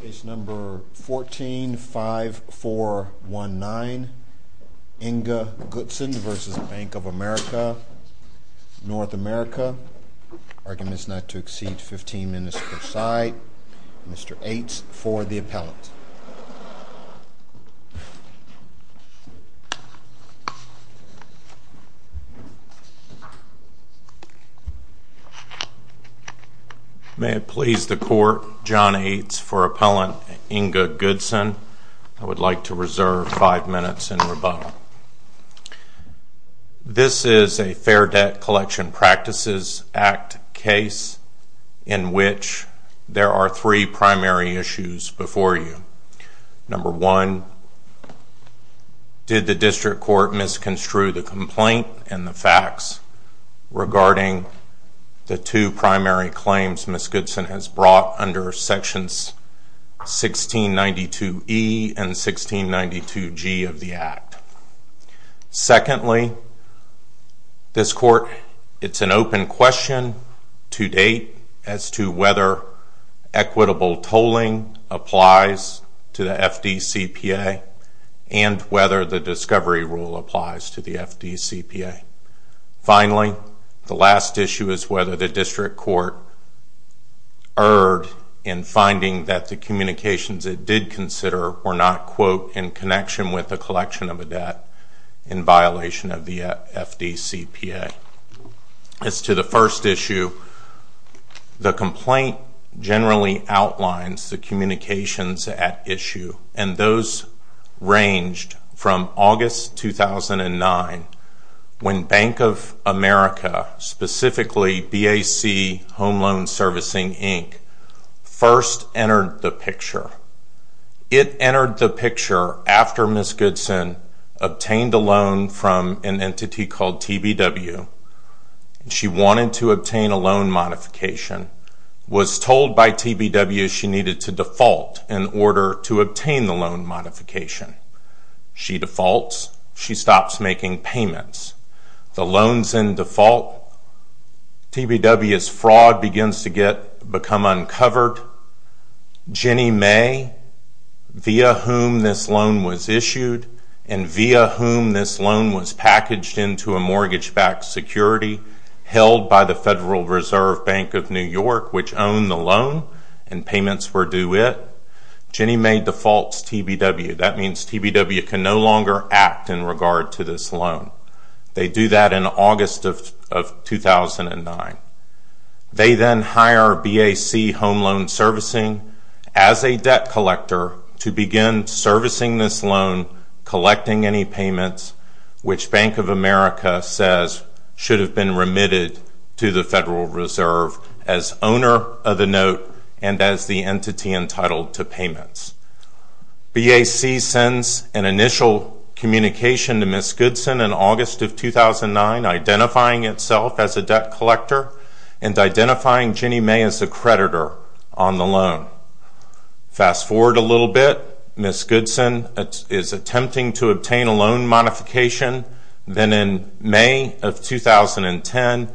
Case number 145419, Inga Goodson v. Bank of America, North America. Arguments not to exceed 15 minutes per side. Mr. Ates for the appellant. May it please the court, John Ates for appellant Inga Goodson. I would like to reserve five minutes in rebuttal. This is a Fair Debt Collection Practices Act case in which there are three primary issues before you. Number one, did the district court misconstrue the complaint and the facts regarding the two primary claims Ms. Goodson has brought under Sections 1692E and 1692G of the Act? Secondly, this court, it's an open question to date as to whether equitable tolling applies to the FDCPA and whether the discovery rule applies to the FDCPA. Finally, the last issue is whether the district court erred in finding that the communications it did consider were not, quote, in connection with the collection of a debt in violation of the FDCPA. As to the first issue, the complaint generally outlines the communications at issue, and those ranged from August 2009 when Bank of America, specifically BAC Home Loan Servicing, Inc. first entered the picture. It entered the picture after Ms. Goodson obtained a loan from an entity called TBW. She wanted to obtain a loan modification, was told by TBW she needed to default in order to obtain the loan modification. She defaults. She stops making payments. The loan's in default. TBW's fraud begins to become uncovered. Jenny May, via whom this loan was issued and via whom this loan was packaged into a mortgage-backed security held by the Federal Reserve Bank of New York, which owned the loan and payments were due it, Jenny May defaults TBW. That means TBW can no longer act in regard to this loan. They do that in August of 2009. They then hire BAC Home Loan Servicing as a debt collector to begin servicing this loan, collecting any payments, which Bank of America says should have been remitted to the Federal Reserve as owner of the note and as the entity entitled to payments. BAC sends an initial communication to Ms. Goodson in August of 2009, identifying itself as a debt collector and identifying Jenny May as the creditor on the loan. Fast forward a little bit. Ms. Goodson is attempting to obtain a loan modification. Then in May of 2010, BAC,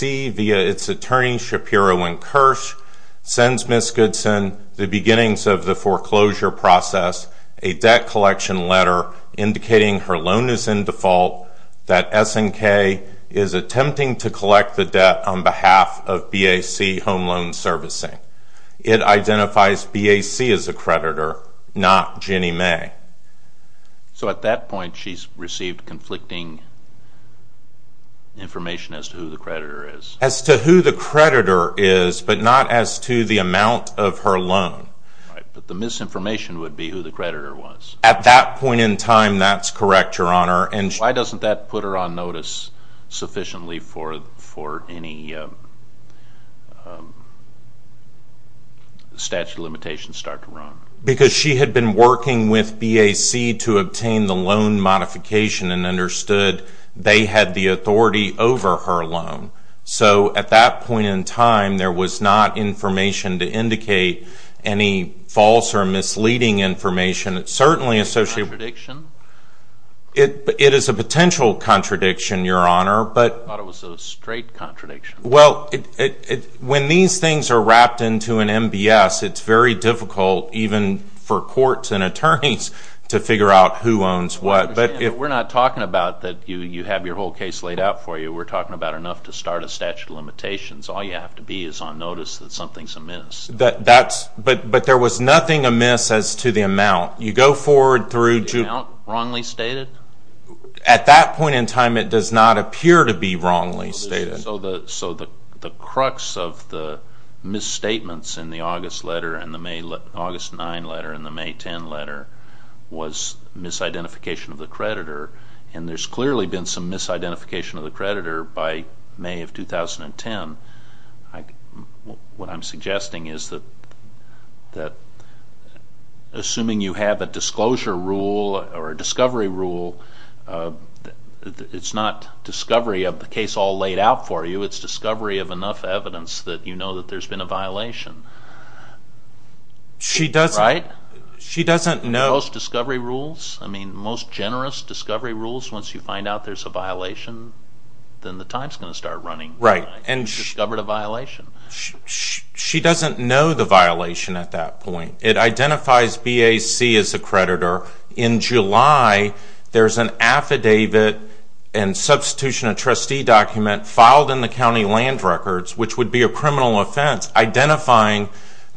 via its attorney Shapiro and Kirsch, sends Ms. Goodson the beginnings of the foreclosure process, a debt collection letter indicating her loan is in default, that SNK is attempting to collect the debt on behalf of BAC Home Loan Servicing. It identifies BAC as a creditor, not Jenny May. So at that point, she's received conflicting information as to who the creditor is? As to who the creditor is, but not as to the amount of her loan. Right, but the misinformation would be who the creditor was. At that point in time, that's correct, Your Honor. Why doesn't that put her on notice sufficiently for any statute of limitations to start to run? Because she had been working with BAC to obtain the loan modification and understood they had the authority over her loan. So at that point in time, there was not information to indicate any false or misleading information. Is it a contradiction? It is a potential contradiction, Your Honor. I thought it was a straight contradiction. Well, when these things are wrapped into an MBS, it's very difficult, even for courts and attorneys, to figure out who owns what. We're not talking about that you have your whole case laid out for you. We're talking about enough to start a statute of limitations. All you have to be is on notice that something's amiss. But there was nothing amiss as to the amount. You go forward through... The amount wrongly stated? At that point in time, it does not appear to be wrongly stated. So the crux of the misstatements in the August 9 letter and the May 10 letter was misidentification of the creditor, and there's clearly been some misidentification of the creditor by May of 2010. What I'm suggesting is that assuming you have a disclosure rule or a discovery rule, it's not discovery of the case all laid out for you. It's discovery of enough evidence that you know that there's been a violation. She doesn't... Right? She doesn't know... Most discovery rules, I mean, most generous discovery rules, once you find out there's a violation, then the time's going to start running. Right. Discovered a violation? She doesn't know the violation at that point. It identifies BAC as the creditor. In July, there's an affidavit and substitution of trustee document filed in the county land records, which would be a criminal offense, identifying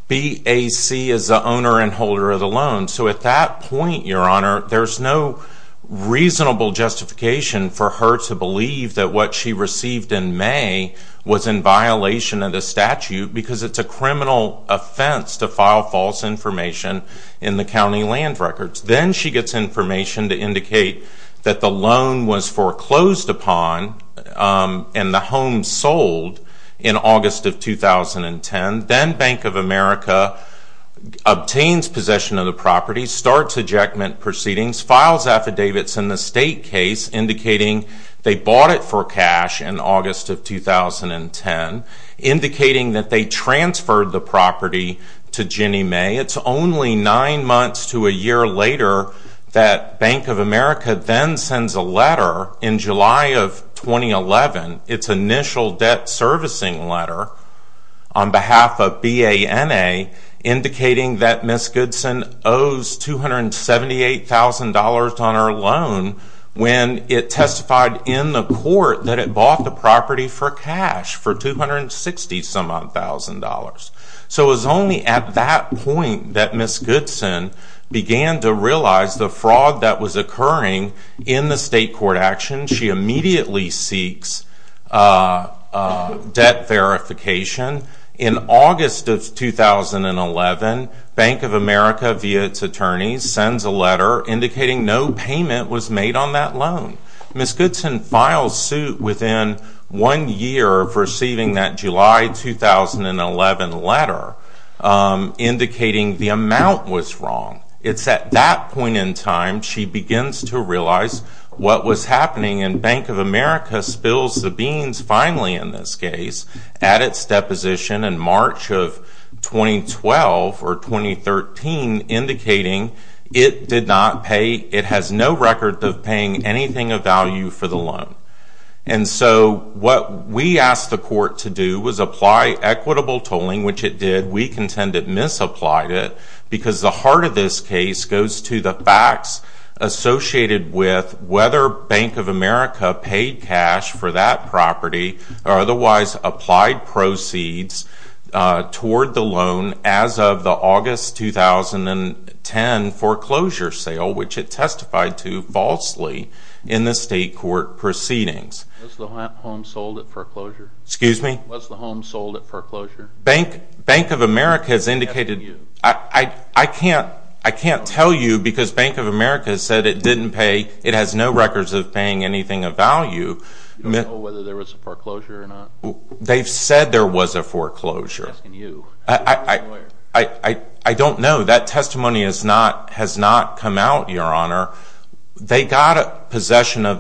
BAC as the owner and holder of the loan. So at that point, Your Honor, there's no reasonable justification for her to believe that what she received in May was in violation of the statute because it's a criminal offense to file false information in the county land records. Then she gets information to indicate that the loan was foreclosed upon and the home sold in August of 2010. Then Bank of America obtains possession of the property, starts ejectment proceedings, files affidavits in the state case indicating they bought it for cash in August of 2010, indicating that they transferred the property to Ginnie Mae. It's only nine months to a year later that Bank of America then sends a letter in July of 2011, its initial debt servicing letter on behalf of BANA, indicating that Ms. Goodson owes $278,000 on her loan when it testified in the court that it bought the property for cash for $260,000. So it was only at that point that Ms. Goodson began to realize the fraud that was occurring in the state court action. She immediately seeks debt verification. In August of 2011, Bank of America, via its attorneys, sends a letter indicating no payment was made on that loan. Ms. Goodson files suit within one year of receiving that July 2011 letter, indicating the amount was wrong. It's at that point in time she begins to realize what was happening and Bank of America spills the beans finally in this case at its deposition in March of 2012 or 2013, indicating it has no record of paying anything of value for the loan. And so what we asked the court to do was apply equitable tolling, which it did. We contend it misapplied it because the heart of this case goes to the facts associated with whether Bank of America paid cash for that property or otherwise applied proceeds toward the loan as of the August 2010 foreclosure sale, which it testified to falsely in the state court proceedings. Was the home sold at foreclosure? Excuse me? Was the home sold at foreclosure? Bank of America has indicated... I'm asking you. I can't tell you because Bank of America said it didn't pay... It has no records of paying anything of value. You don't know whether there was a foreclosure or not? They've said there was a foreclosure. I'm asking you. I don't know. They got possession of...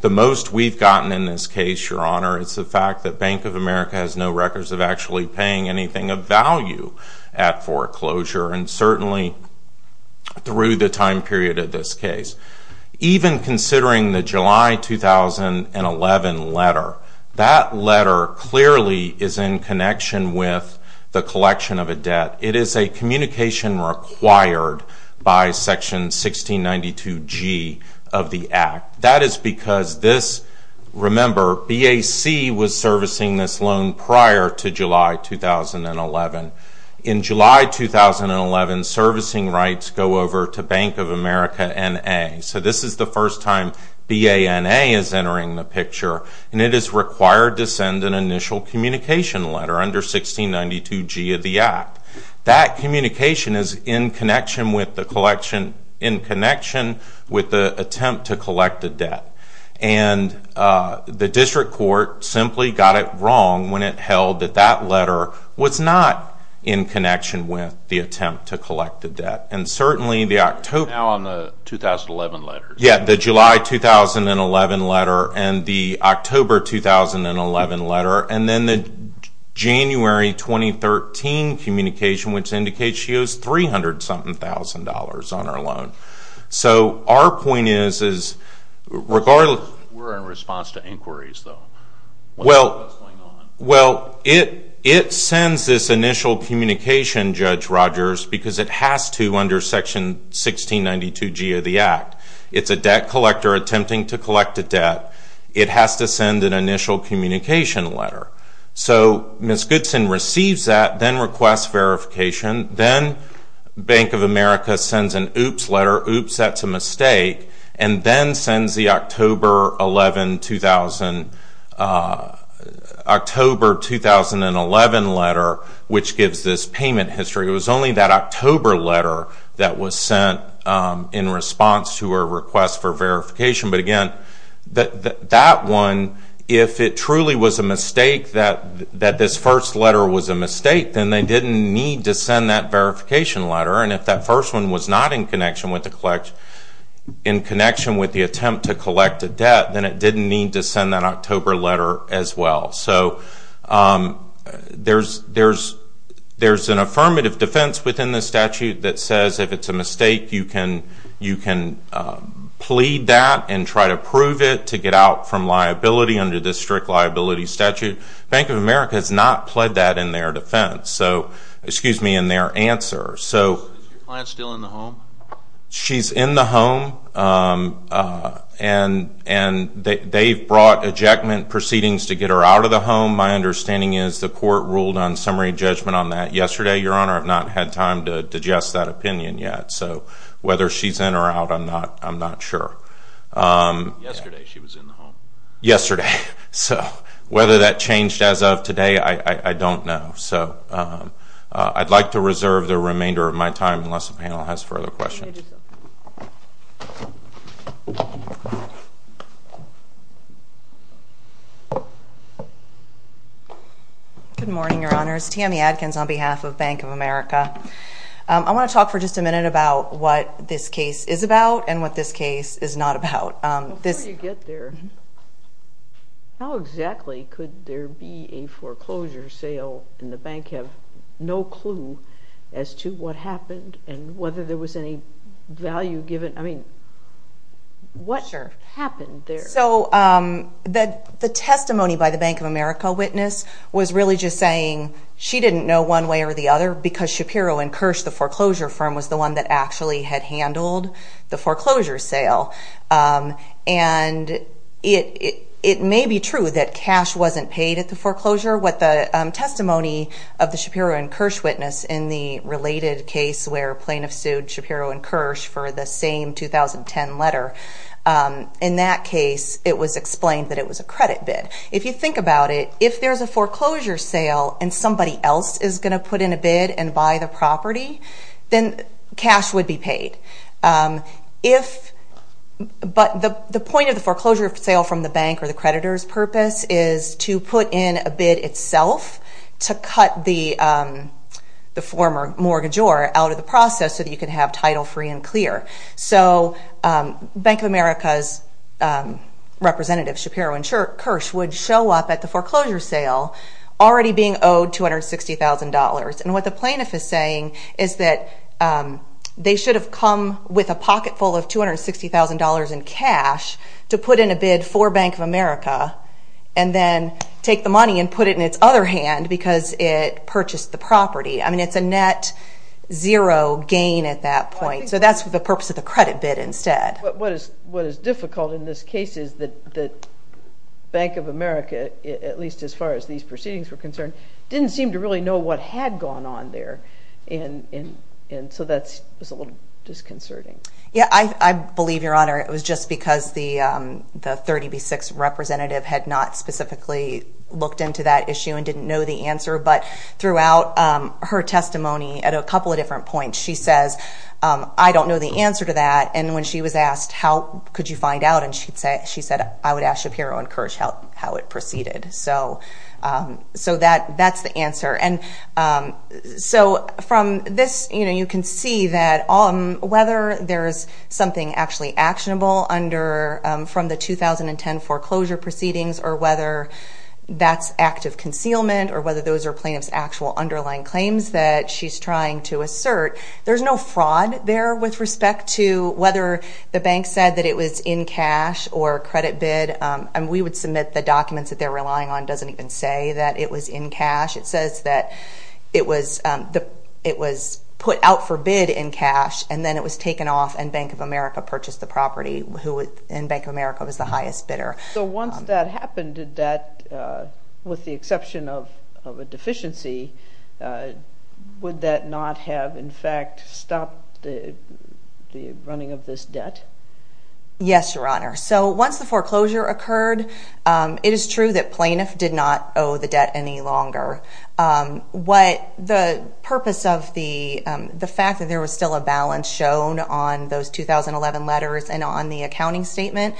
The most we've gotten in this case, Your Honor, is the fact that Bank of America has no records of actually paying anything of value at foreclosure and certainly through the time period of this case. Even considering the July 2011 letter, that letter clearly is in connection with the collection of a debt. It is a communication required by Section 1692G of the Act. That is because this, remember, BAC was servicing this loan prior to July 2011. In July 2011, servicing rights go over to Bank of America N.A. So this is the first time B.A.N.A. is entering the picture, and it is required to send an initial communication letter under 1692G of the Act. That communication is in connection with the attempt to collect a debt. And the district court simply got it wrong when it held that that letter was not in connection with the attempt to collect a debt. And certainly the October... Now on the 2011 letter. Yeah, the July 2011 letter and the October 2011 letter and then the January 2013 communication, which indicates she owes $300,000-something on her loan. So our point is, regardless... We're in response to inquiries, though. Well, it sends this initial communication, Judge Rogers, because it has to under Section 1692G of the Act. It's a debt collector attempting to collect a debt. It has to send an initial communication letter. So Ms. Goodson receives that, then requests verification. Then Bank of America sends an oops letter. Oops, that's a mistake. And then sends the October 2011 letter, which gives this payment history. It was only that October letter that was sent in response to her request for verification. But again, that one, if it truly was a mistake that this first letter was a mistake, then they didn't need to send that verification letter. And if that first one was not in connection with the attempt to collect a debt, then it didn't need to send that October letter as well. So there's an affirmative defense within this statute that says if it's a mistake, you can plead that and try to prove it to get out from liability under this strict liability statute. Bank of America has not pled that in their defense. So, excuse me, in their answer. Is your client still in the home? She's in the home. And they've brought ejectment proceedings to get her out of the home. My understanding is the court ruled on summary judgment on that yesterday, Your Honor. I've not had time to digest that opinion yet. So whether she's in or out, I'm not sure. Yesterday she was in the home. Yesterday. So whether that changed as of today, I don't know. So I'd like to reserve the remainder of my time unless the panel has further questions. Good morning, Your Honors. Tammy Adkins on behalf of Bank of America. I want to talk for just a minute about what this case is about and what this case is not about. Before you get there, how exactly could there be a foreclosure sale and the bank have no clue as to what happened and whether there was any value given? I mean, what happened there? So the testimony by the Bank of America witness was really just saying she didn't know one way or the other because Shapiro & Kirsch, the foreclosure firm, was the one that actually had handled the foreclosure sale. And it may be true that cash wasn't paid at the foreclosure. What the testimony of the Shapiro & Kirsch witness in the related case where plaintiffs sued Shapiro & Kirsch for the same 2010 letter, in that case it was explained that it was a credit bid. If you think about it, if there's a foreclosure sale and somebody else is going to put in a bid and buy the property, then cash would be paid. But the point of the foreclosure sale from the bank or the creditor's purpose is to put in a bid itself to cut the former mortgagor out of the process so that you can have title free and clear. So Bank of America's representative, Shapiro & Kirsch, would show up at the foreclosure sale already being owed $260,000. And what the plaintiff is saying is that they should have come with a pocketful of $260,000 in cash to put in a bid for Bank of America and then take the money and put it in its other hand because it purchased the property. I mean, it's a net zero gain at that point. So that's the purpose of the credit bid instead. But what is difficult in this case is that Bank of America, at least as far as these proceedings were concerned, didn't seem to really know what had gone on there. And so that's a little disconcerting. Yeah, I believe, Your Honor, it was just because the 30B6 representative had not specifically looked into that issue and didn't know the answer. But throughout her testimony at a couple of different points, she says, I don't know the answer to that. And when she was asked, How could you find out? And she said, I would ask Shapiro & Kirsch how it proceeded. So that's the answer. So from this, you can see that whether there's something actually actionable from the 2010 foreclosure proceedings or whether that's active concealment or whether those are plaintiff's actual underlying claims that she's trying to assert, there's no fraud there with respect to whether the bank said that it was in cash or credit bid. And we would submit the documents that they're relying on doesn't even say that it was in cash. It says that it was put out for bid in cash, and then it was taken off, and Bank of America purchased the property, and Bank of America was the highest bidder. So once that happened, did that, with the exception of a deficiency, would that not have, in fact, stopped the running of this debt? Yes, Your Honor. So once the foreclosure occurred, it is true that plaintiff did not owe the debt any longer. What the purpose of the fact that there was still a balance shown on those 2011 letters and on the accounting statement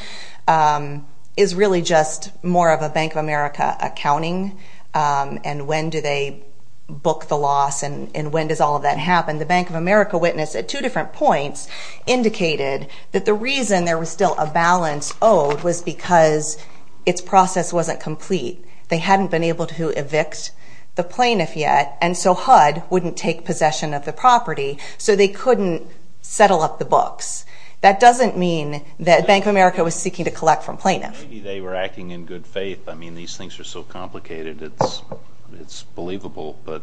is really just more of a Bank of America accounting and when do they book the loss and when does all of that happen. The Bank of America witness, at two different points, indicated that the reason there was still a balance owed was because its process wasn't complete. They hadn't been able to evict the plaintiff yet, and so HUD wouldn't take possession of the property, so they couldn't settle up the books. That doesn't mean that Bank of America was seeking to collect from plaintiffs. Maybe they were acting in good faith. I mean, these things are so complicated, it's believable. But it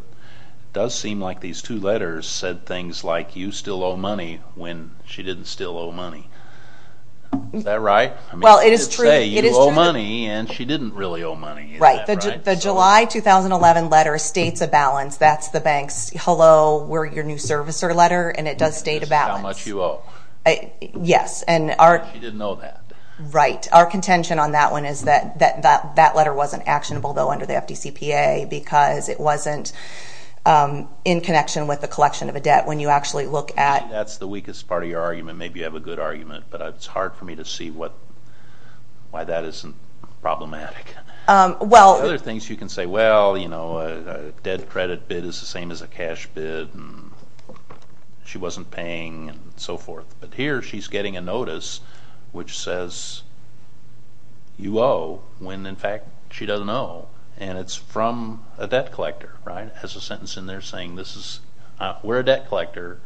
does seem like these two letters said things like, you still owe money when she didn't still owe money. Is that right? Well, it is true. And she didn't really owe money. Right. The July 2011 letter states a balance. That's the bank's, hello, we're your new servicer letter, and it does state a balance. This is how much you owe. Yes. She didn't know that. Right. Our contention on that one is that that letter wasn't actionable, though, under the FDCPA because it wasn't in connection with the collection of a debt. When you actually look at... That's the weakest part of your argument. Maybe you have a good argument, but it's hard for me to see why that isn't problematic. Well... Other things you can say, well, you know, a debt credit bid is the same as a cash bid, and she wasn't paying and so forth. But here she's getting a notice which says you owe when, in fact, she doesn't owe. And it's from a debt collector, right? It has a sentence in there saying we're a debt collector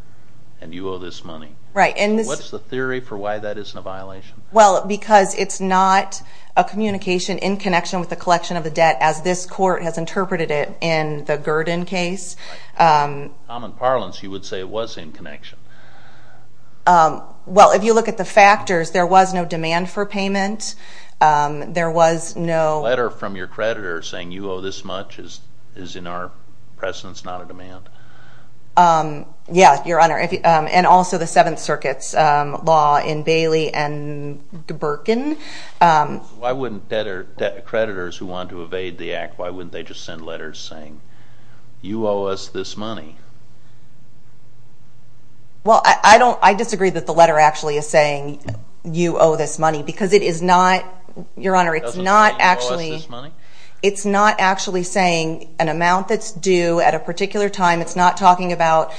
and you owe this money. Right. What's the theory for why that isn't a violation? Well, because it's not a communication in connection with the collection of a debt, as this court has interpreted it in the Gurdon case. Common parlance, you would say it was in connection. Well, if you look at the factors, there was no demand for payment. There was no... A letter from your creditor saying you owe this much is, in our presence, not a demand. Yeah, Your Honor, and also the Seventh Circuit's law in Bailey and Birkin. Why wouldn't creditors who wanted to evade the act, why wouldn't they just send letters saying you owe us this money? Well, I disagree that the letter actually is saying you owe this money, because it is not, Your Honor, it's not actually... It doesn't say you owe us this money? It's not talking about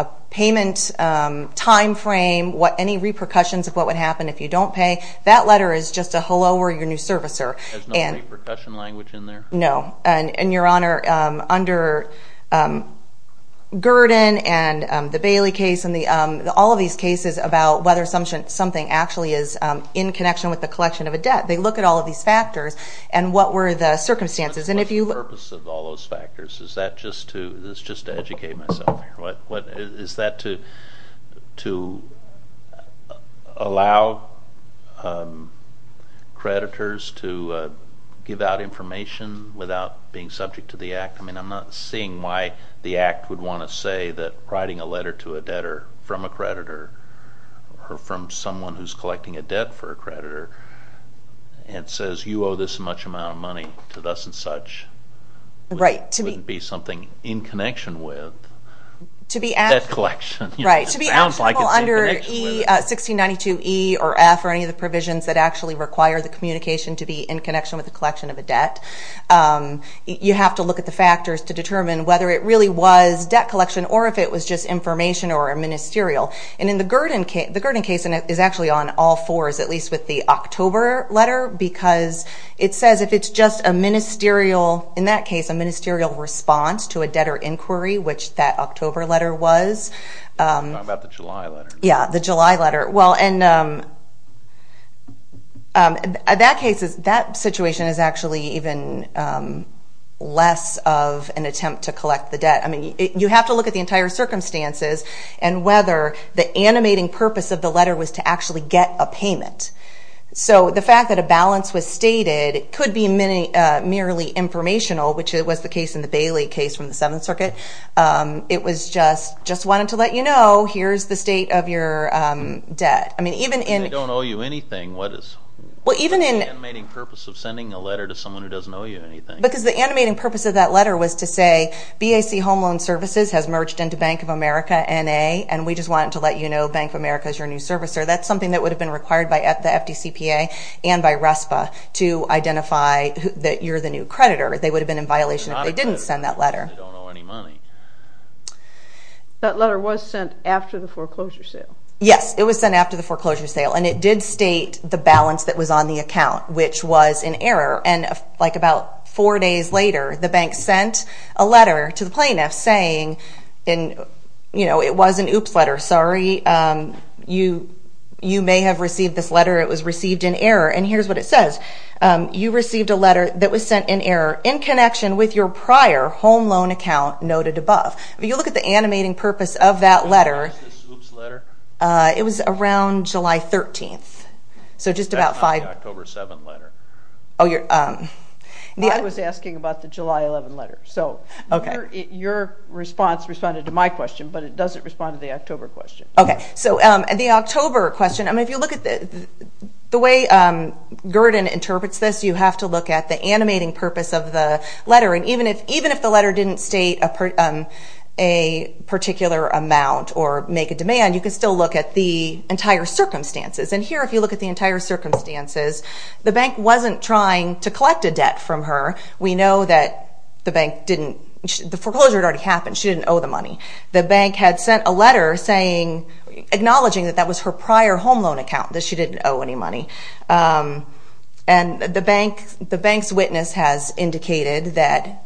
a payment time frame, any repercussions of what would happen if you don't pay. That letter is just a hello, we're your new servicer. There's no repercussion language in there? No. And, Your Honor, under Gurdon and the Bailey case and all of these cases about whether something actually is in connection with the collection of a debt, they look at all of these factors and what were the circumstances. What's the purpose of all those factors? Is that just to educate myself here? Is that to allow creditors to give out information without being subject to the act? I mean, I'm not seeing why the act would want to say that writing a letter to a debtor from a creditor or from someone who's collecting a debt for a creditor and says you owe this much amount of money to thus and such wouldn't be something in connection with debt collection. Right. To be actionable under 1692E or F or any of the provisions that actually require the communication to be in connection with the collection of a debt, you have to look at the factors to determine whether it really was debt collection or if it was just information or a ministerial. And in the Gurdon case, the Gurdon case is actually on all fours, at least with the October letter because it says if it's just a ministerial, in that case a ministerial response to a debtor inquiry, which that October letter was. You're talking about the July letter. Yeah, the July letter. Well, in that case, that situation is actually even less of an attempt to collect the debt. I mean, you have to look at the entire circumstances and whether the animating purpose of the letter was to actually get a payment. So the fact that a balance was stated could be merely informational, which was the case in the Bailey case from the Seventh Circuit. It was just wanted to let you know here's the state of your debt. I mean, even in— They don't owe you anything. What is the animating purpose of sending a letter to someone who doesn't owe you anything? Because the animating purpose of that letter was to say BAC Home Loan Services has merged into Bank of America N.A., and we just wanted to let you know Bank of America is your new servicer. That's something that would have been required by the FDCPA and by RESPA to identify that you're the new creditor. They would have been in violation if they didn't send that letter. They don't owe any money. That letter was sent after the foreclosure sale. Yes, it was sent after the foreclosure sale, and it did state the balance that was on the account, which was an error. About four days later, the bank sent a letter to the plaintiff saying it was an oops letter. Sorry, you may have received this letter. It was received in error. Here's what it says. You received a letter that was sent in error in connection with your prior home loan account noted above. If you look at the animating purpose of that letter, it was around July 13th. That's not the October 7th letter. I was asking about the July 11th letter. Your response responded to my question, but it doesn't respond to the October question. The October question, if you look at the way Gurdon interprets this, you have to look at the animating purpose of the letter. Even if the letter didn't state a particular amount or make a demand, you can still look at the entire circumstances. Here, if you look at the entire circumstances, the bank wasn't trying to collect a debt from her. We know that the bank didn't. The foreclosure had already happened. She didn't owe the money. The bank had sent a letter acknowledging that that was her prior home loan account, that she didn't owe any money. The bank's witness has indicated that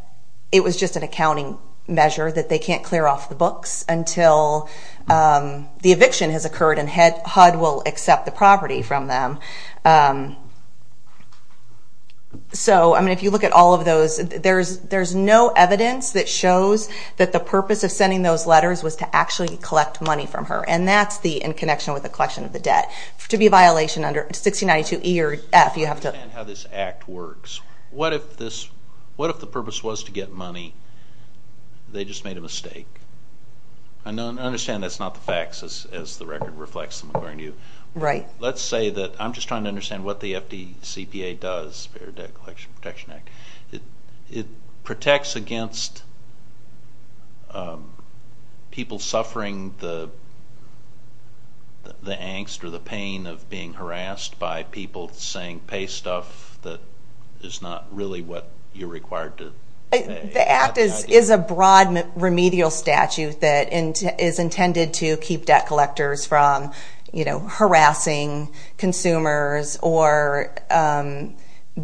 it was just an accounting measure, that they can't clear off the books until the eviction has occurred and HUD will accept the property from them. If you look at all of those, there's no evidence that shows that the purpose of sending those letters was to actually collect money from her, and that's in connection with the collection of the debt. To be a violation under 1692 E or F, you have to... I don't understand how this act works. What if the purpose was to get money, they just made a mistake? I understand that's not the facts as the record reflects them according to you. Right. Let's say that I'm just trying to understand what the FDCPA does, Fair Debt Collection Protection Act. It protects against people suffering the angst or the pain of being harassed by people saying pay stuff that is not really what you're required to pay. The act is a broad remedial statute that is intended to keep debt collectors from harassing consumers or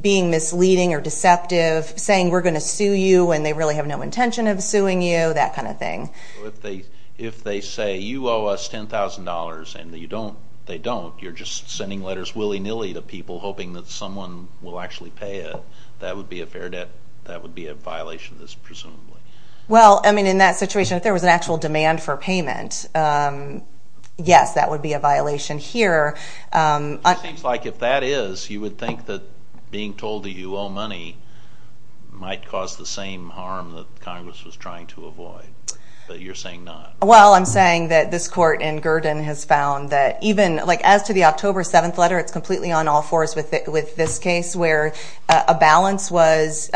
being misleading or deceptive, saying we're going to sue you when they really have no intention of suing you, that kind of thing. If they say you owe us $10,000 and they don't, you're just sending letters willy-nilly to people hoping that someone will actually pay it, that would be a violation, presumably. Well, I mean, in that situation, if there was an actual demand for payment, yes, that would be a violation here. It seems like if that is, you would think that being told that you owe money might cause the same harm that Congress was trying to avoid, but you're saying not. Well, I'm saying that this court in Gurdon has found that even, like as to the October 7th letter, it's completely on all fours with this case where a balance was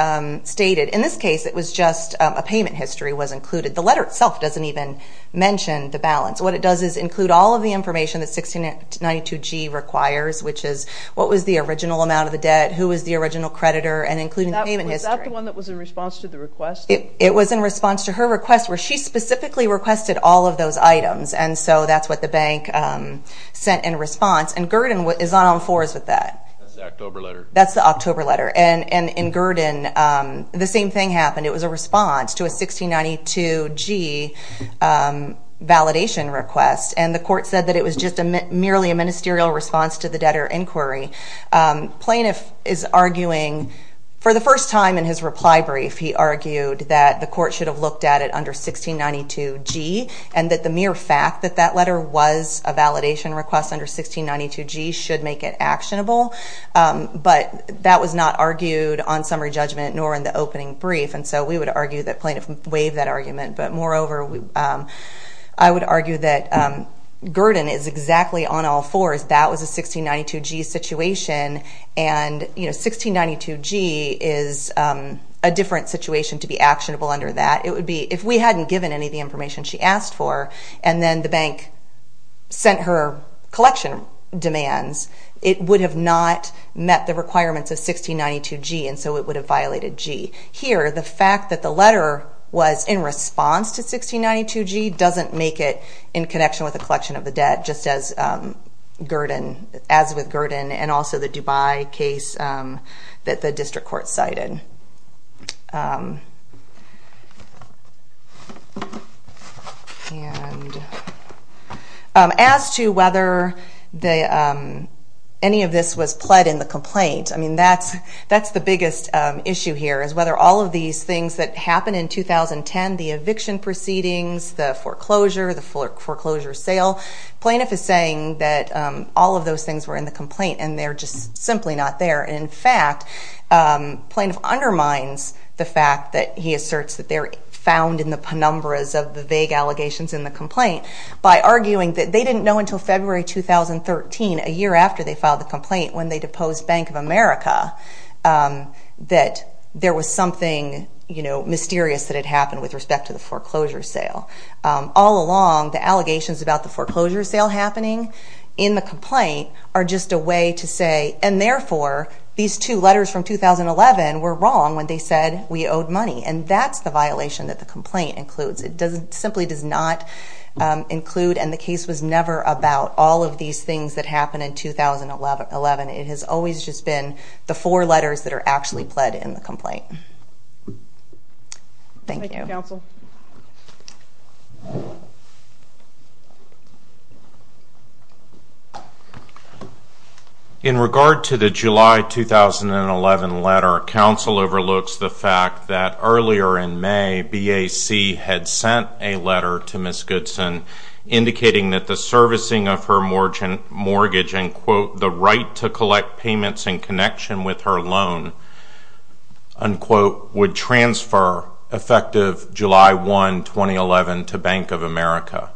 stated. In this case, it was just a payment history was included. The letter itself doesn't even mention the balance. What it does is include all of the information that 1692G requires, which is what was the original amount of the debt, who was the original creditor, and including the payment history. Was that the one that was in response to the request? It was in response to her request where she specifically requested all of those items, and so that's what the bank sent in response. And Gurdon is on all fours with that. That's the October letter. That's the October letter. And in Gurdon, the same thing happened. It was a response to a 1692G validation request, and the court said that it was just merely a ministerial response to the debtor inquiry. Plaintiff is arguing, for the first time in his reply brief, he argued that the court should have looked at it under 1692G and that the mere fact that that letter was a validation request under 1692G should make it actionable. But that was not argued on summary judgment nor in the opening brief, and so we would argue that plaintiff waived that argument. But moreover, I would argue that Gurdon is exactly on all fours. That was a 1692G situation, and 1692G is a different situation to be actionable under that. It would be if we hadn't given any of the information she asked for and then the bank sent her collection demands, it would have not met the requirements of 1692G, and so it would have violated G. Here, the fact that the letter was in response to 1692G doesn't make it in connection with the collection of the debt, just as with Gurdon and also the Dubai case that the district court cited. As to whether any of this was pled in the complaint, that's the biggest issue here, is whether all of these things that happened in 2010, the eviction proceedings, the foreclosure, the foreclosure sale, plaintiff is saying that all of those things were in the complaint and they're just simply not there. In fact, plaintiff undermines the fact that he asserts that they're found in the penumbras of the vague allegations in the complaint by arguing that they didn't know until February 2013, a year after they filed the complaint, when they deposed Bank of America, that there was something mysterious that had happened with respect to the foreclosure sale. All along, the allegations about the foreclosure sale happening in the complaint are just a way to say, and therefore, these two letters from 2011 were wrong when they said we owed money, and that's the violation that the complaint includes. It simply does not include, and the case was never about all of these things that happened in 2011. It has always just been the four letters that are actually pled in the complaint. Thank you. Thank you, counsel. In regard to the July 2011 letter, counsel overlooks the fact that earlier in May, BAC had sent a letter to Ms. Goodson indicating that the servicing of her mortgage and, quote, the right to collect payments in connection with her loan, unquote, would transfer effective July 1, 2011, to Bank of America.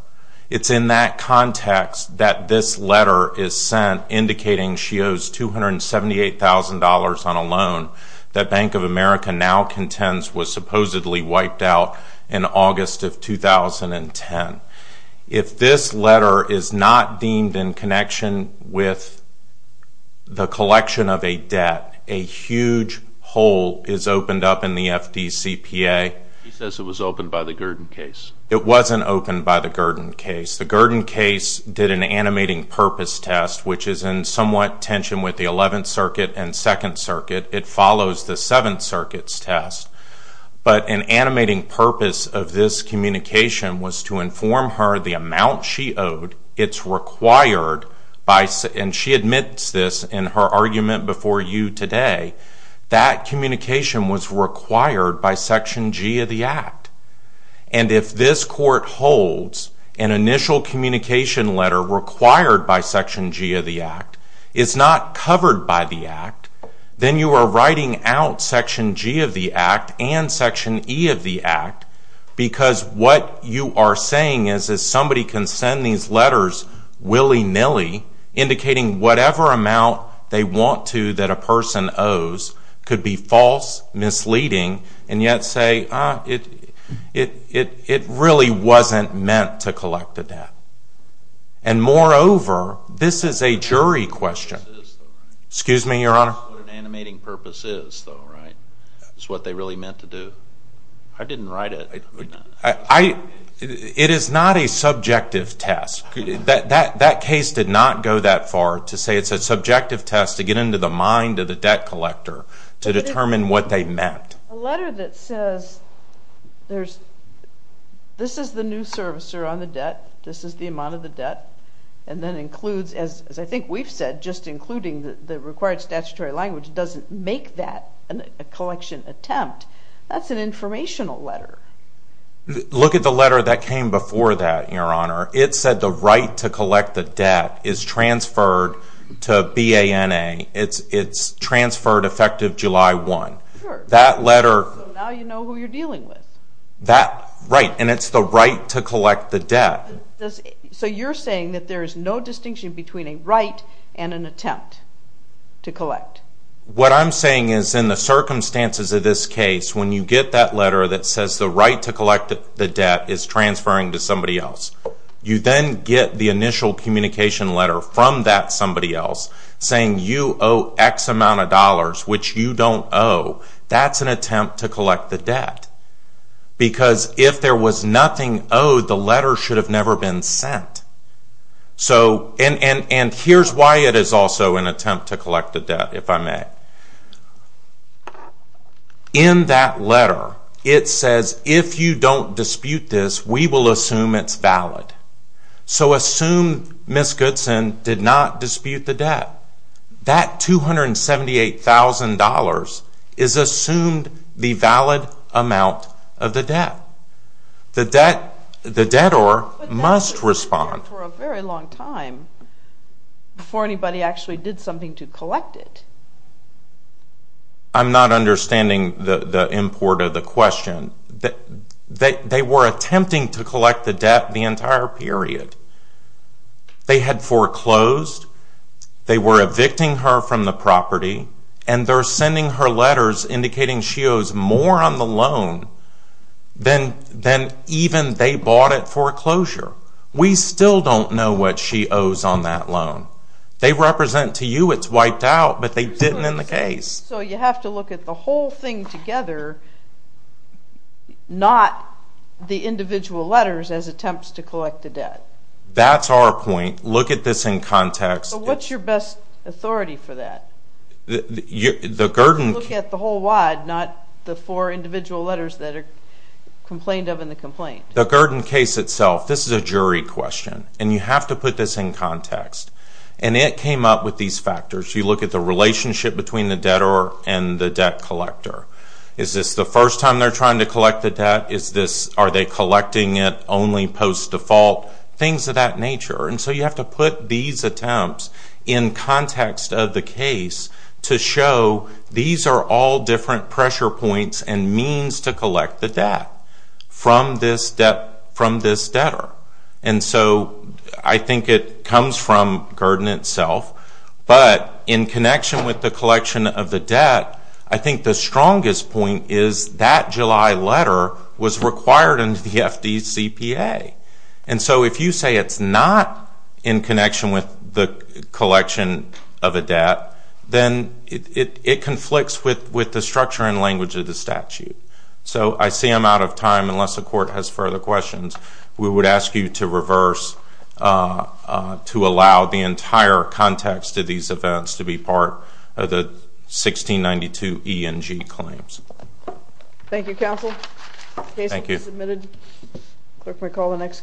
It's in that context that this letter is sent indicating she owes $278,000 on a loan that Bank of America now contends was supposedly wiped out in August of 2010. If this letter is not deemed in connection with the collection of a debt, a huge hole is opened up in the FDCPA. He says it was opened by the Gurdon case. It wasn't opened by the Gurdon case. The Gurdon case did an animating purpose test, which is in somewhat tension with the 11th Circuit and 2nd Circuit. It follows the 7th Circuit's test. But an animating purpose of this communication was to inform her the amount she owed, it's required by, and she admits this in her argument before you today, that communication was required by Section G of the Act. And if this court holds an initial communication letter required by Section G of the Act, it's not covered by the Act, then you are writing out Section G of the Act and Section E of the Act because what you are saying is somebody can send these letters willy-nilly indicating whatever amount they want to that a person owes could be false, misleading, and yet say it really wasn't meant to collect a debt. And moreover, this is a jury question. Excuse me, Your Honor? ...what an animating purpose is, though, right? That's what they really meant to do. I didn't write it. It is not a subjective test. That case did not go that far to say it's a subjective test to get into the mind of the debt collector to determine what they meant. A letter that says this is the new servicer on the debt, this is the amount of the debt, and then includes, as I think we've said, just including the required statutory language doesn't make that a collection attempt. That's an informational letter. Look at the letter that came before that, Your Honor. It said the right to collect the debt is transferred to BANA. It's transferred effective July 1. Sure. That letter... So now you know who you're dealing with. Right, and it's the right to collect the debt. So you're saying that there is no distinction between a right and an attempt to collect. What I'm saying is in the circumstances of this case, when you get that letter that says the right to collect the debt is transferring to somebody else, you then get the initial communication letter from that somebody else saying you owe X amount of dollars, which you don't owe. That's an attempt to collect the debt. Because if there was nothing owed, the letter should have never been sent. And here's why it is also an attempt to collect the debt. If I may. In that letter, it says if you don't dispute this, we will assume it's valid. So assume Ms. Goodson did not dispute the debt. That $278,000 is assumed the valid amount of the debt. The debtor must respond. But that was there for a very long time before anybody actually did something to collect it. I'm not understanding the import of the question. They were attempting to collect the debt the entire period. They had foreclosed. They were evicting her from the property. And they're sending her letters indicating she owes more on the loan than even they bought at foreclosure. We still don't know what she owes on that loan. They represent to you it's wiped out, but they didn't in the case. So you have to look at the whole thing together, not the individual letters as attempts to collect the debt. That's our point. Look at this in context. What's your best authority for that? Look at the whole wide, not the four individual letters that are complained of in the complaint. The Gurdon case itself, this is a jury question, and you have to put this in context. And it came up with these factors. You look at the relationship between the debtor and the debt collector. Is this the first time they're trying to collect the debt? Are they collecting it only post-default? Things of that nature. And so you have to put these attempts in context of the case to show these are all different pressure points and means to collect the debt from this debtor. And so I think it comes from Gurdon itself, but in connection with the collection of the debt, I think the strongest point is that July letter was required under the FDCPA. And so if you say it's not in connection with the collection of a debt, then it conflicts with the structure and language of the statute. So I see I'm out of time. Unless the court has further questions, we would ask you to reverse to allow the entire context of these events to be part of the 1692 E&G claims. Thank you, counsel. The case has been submitted. Clerk may call the next case.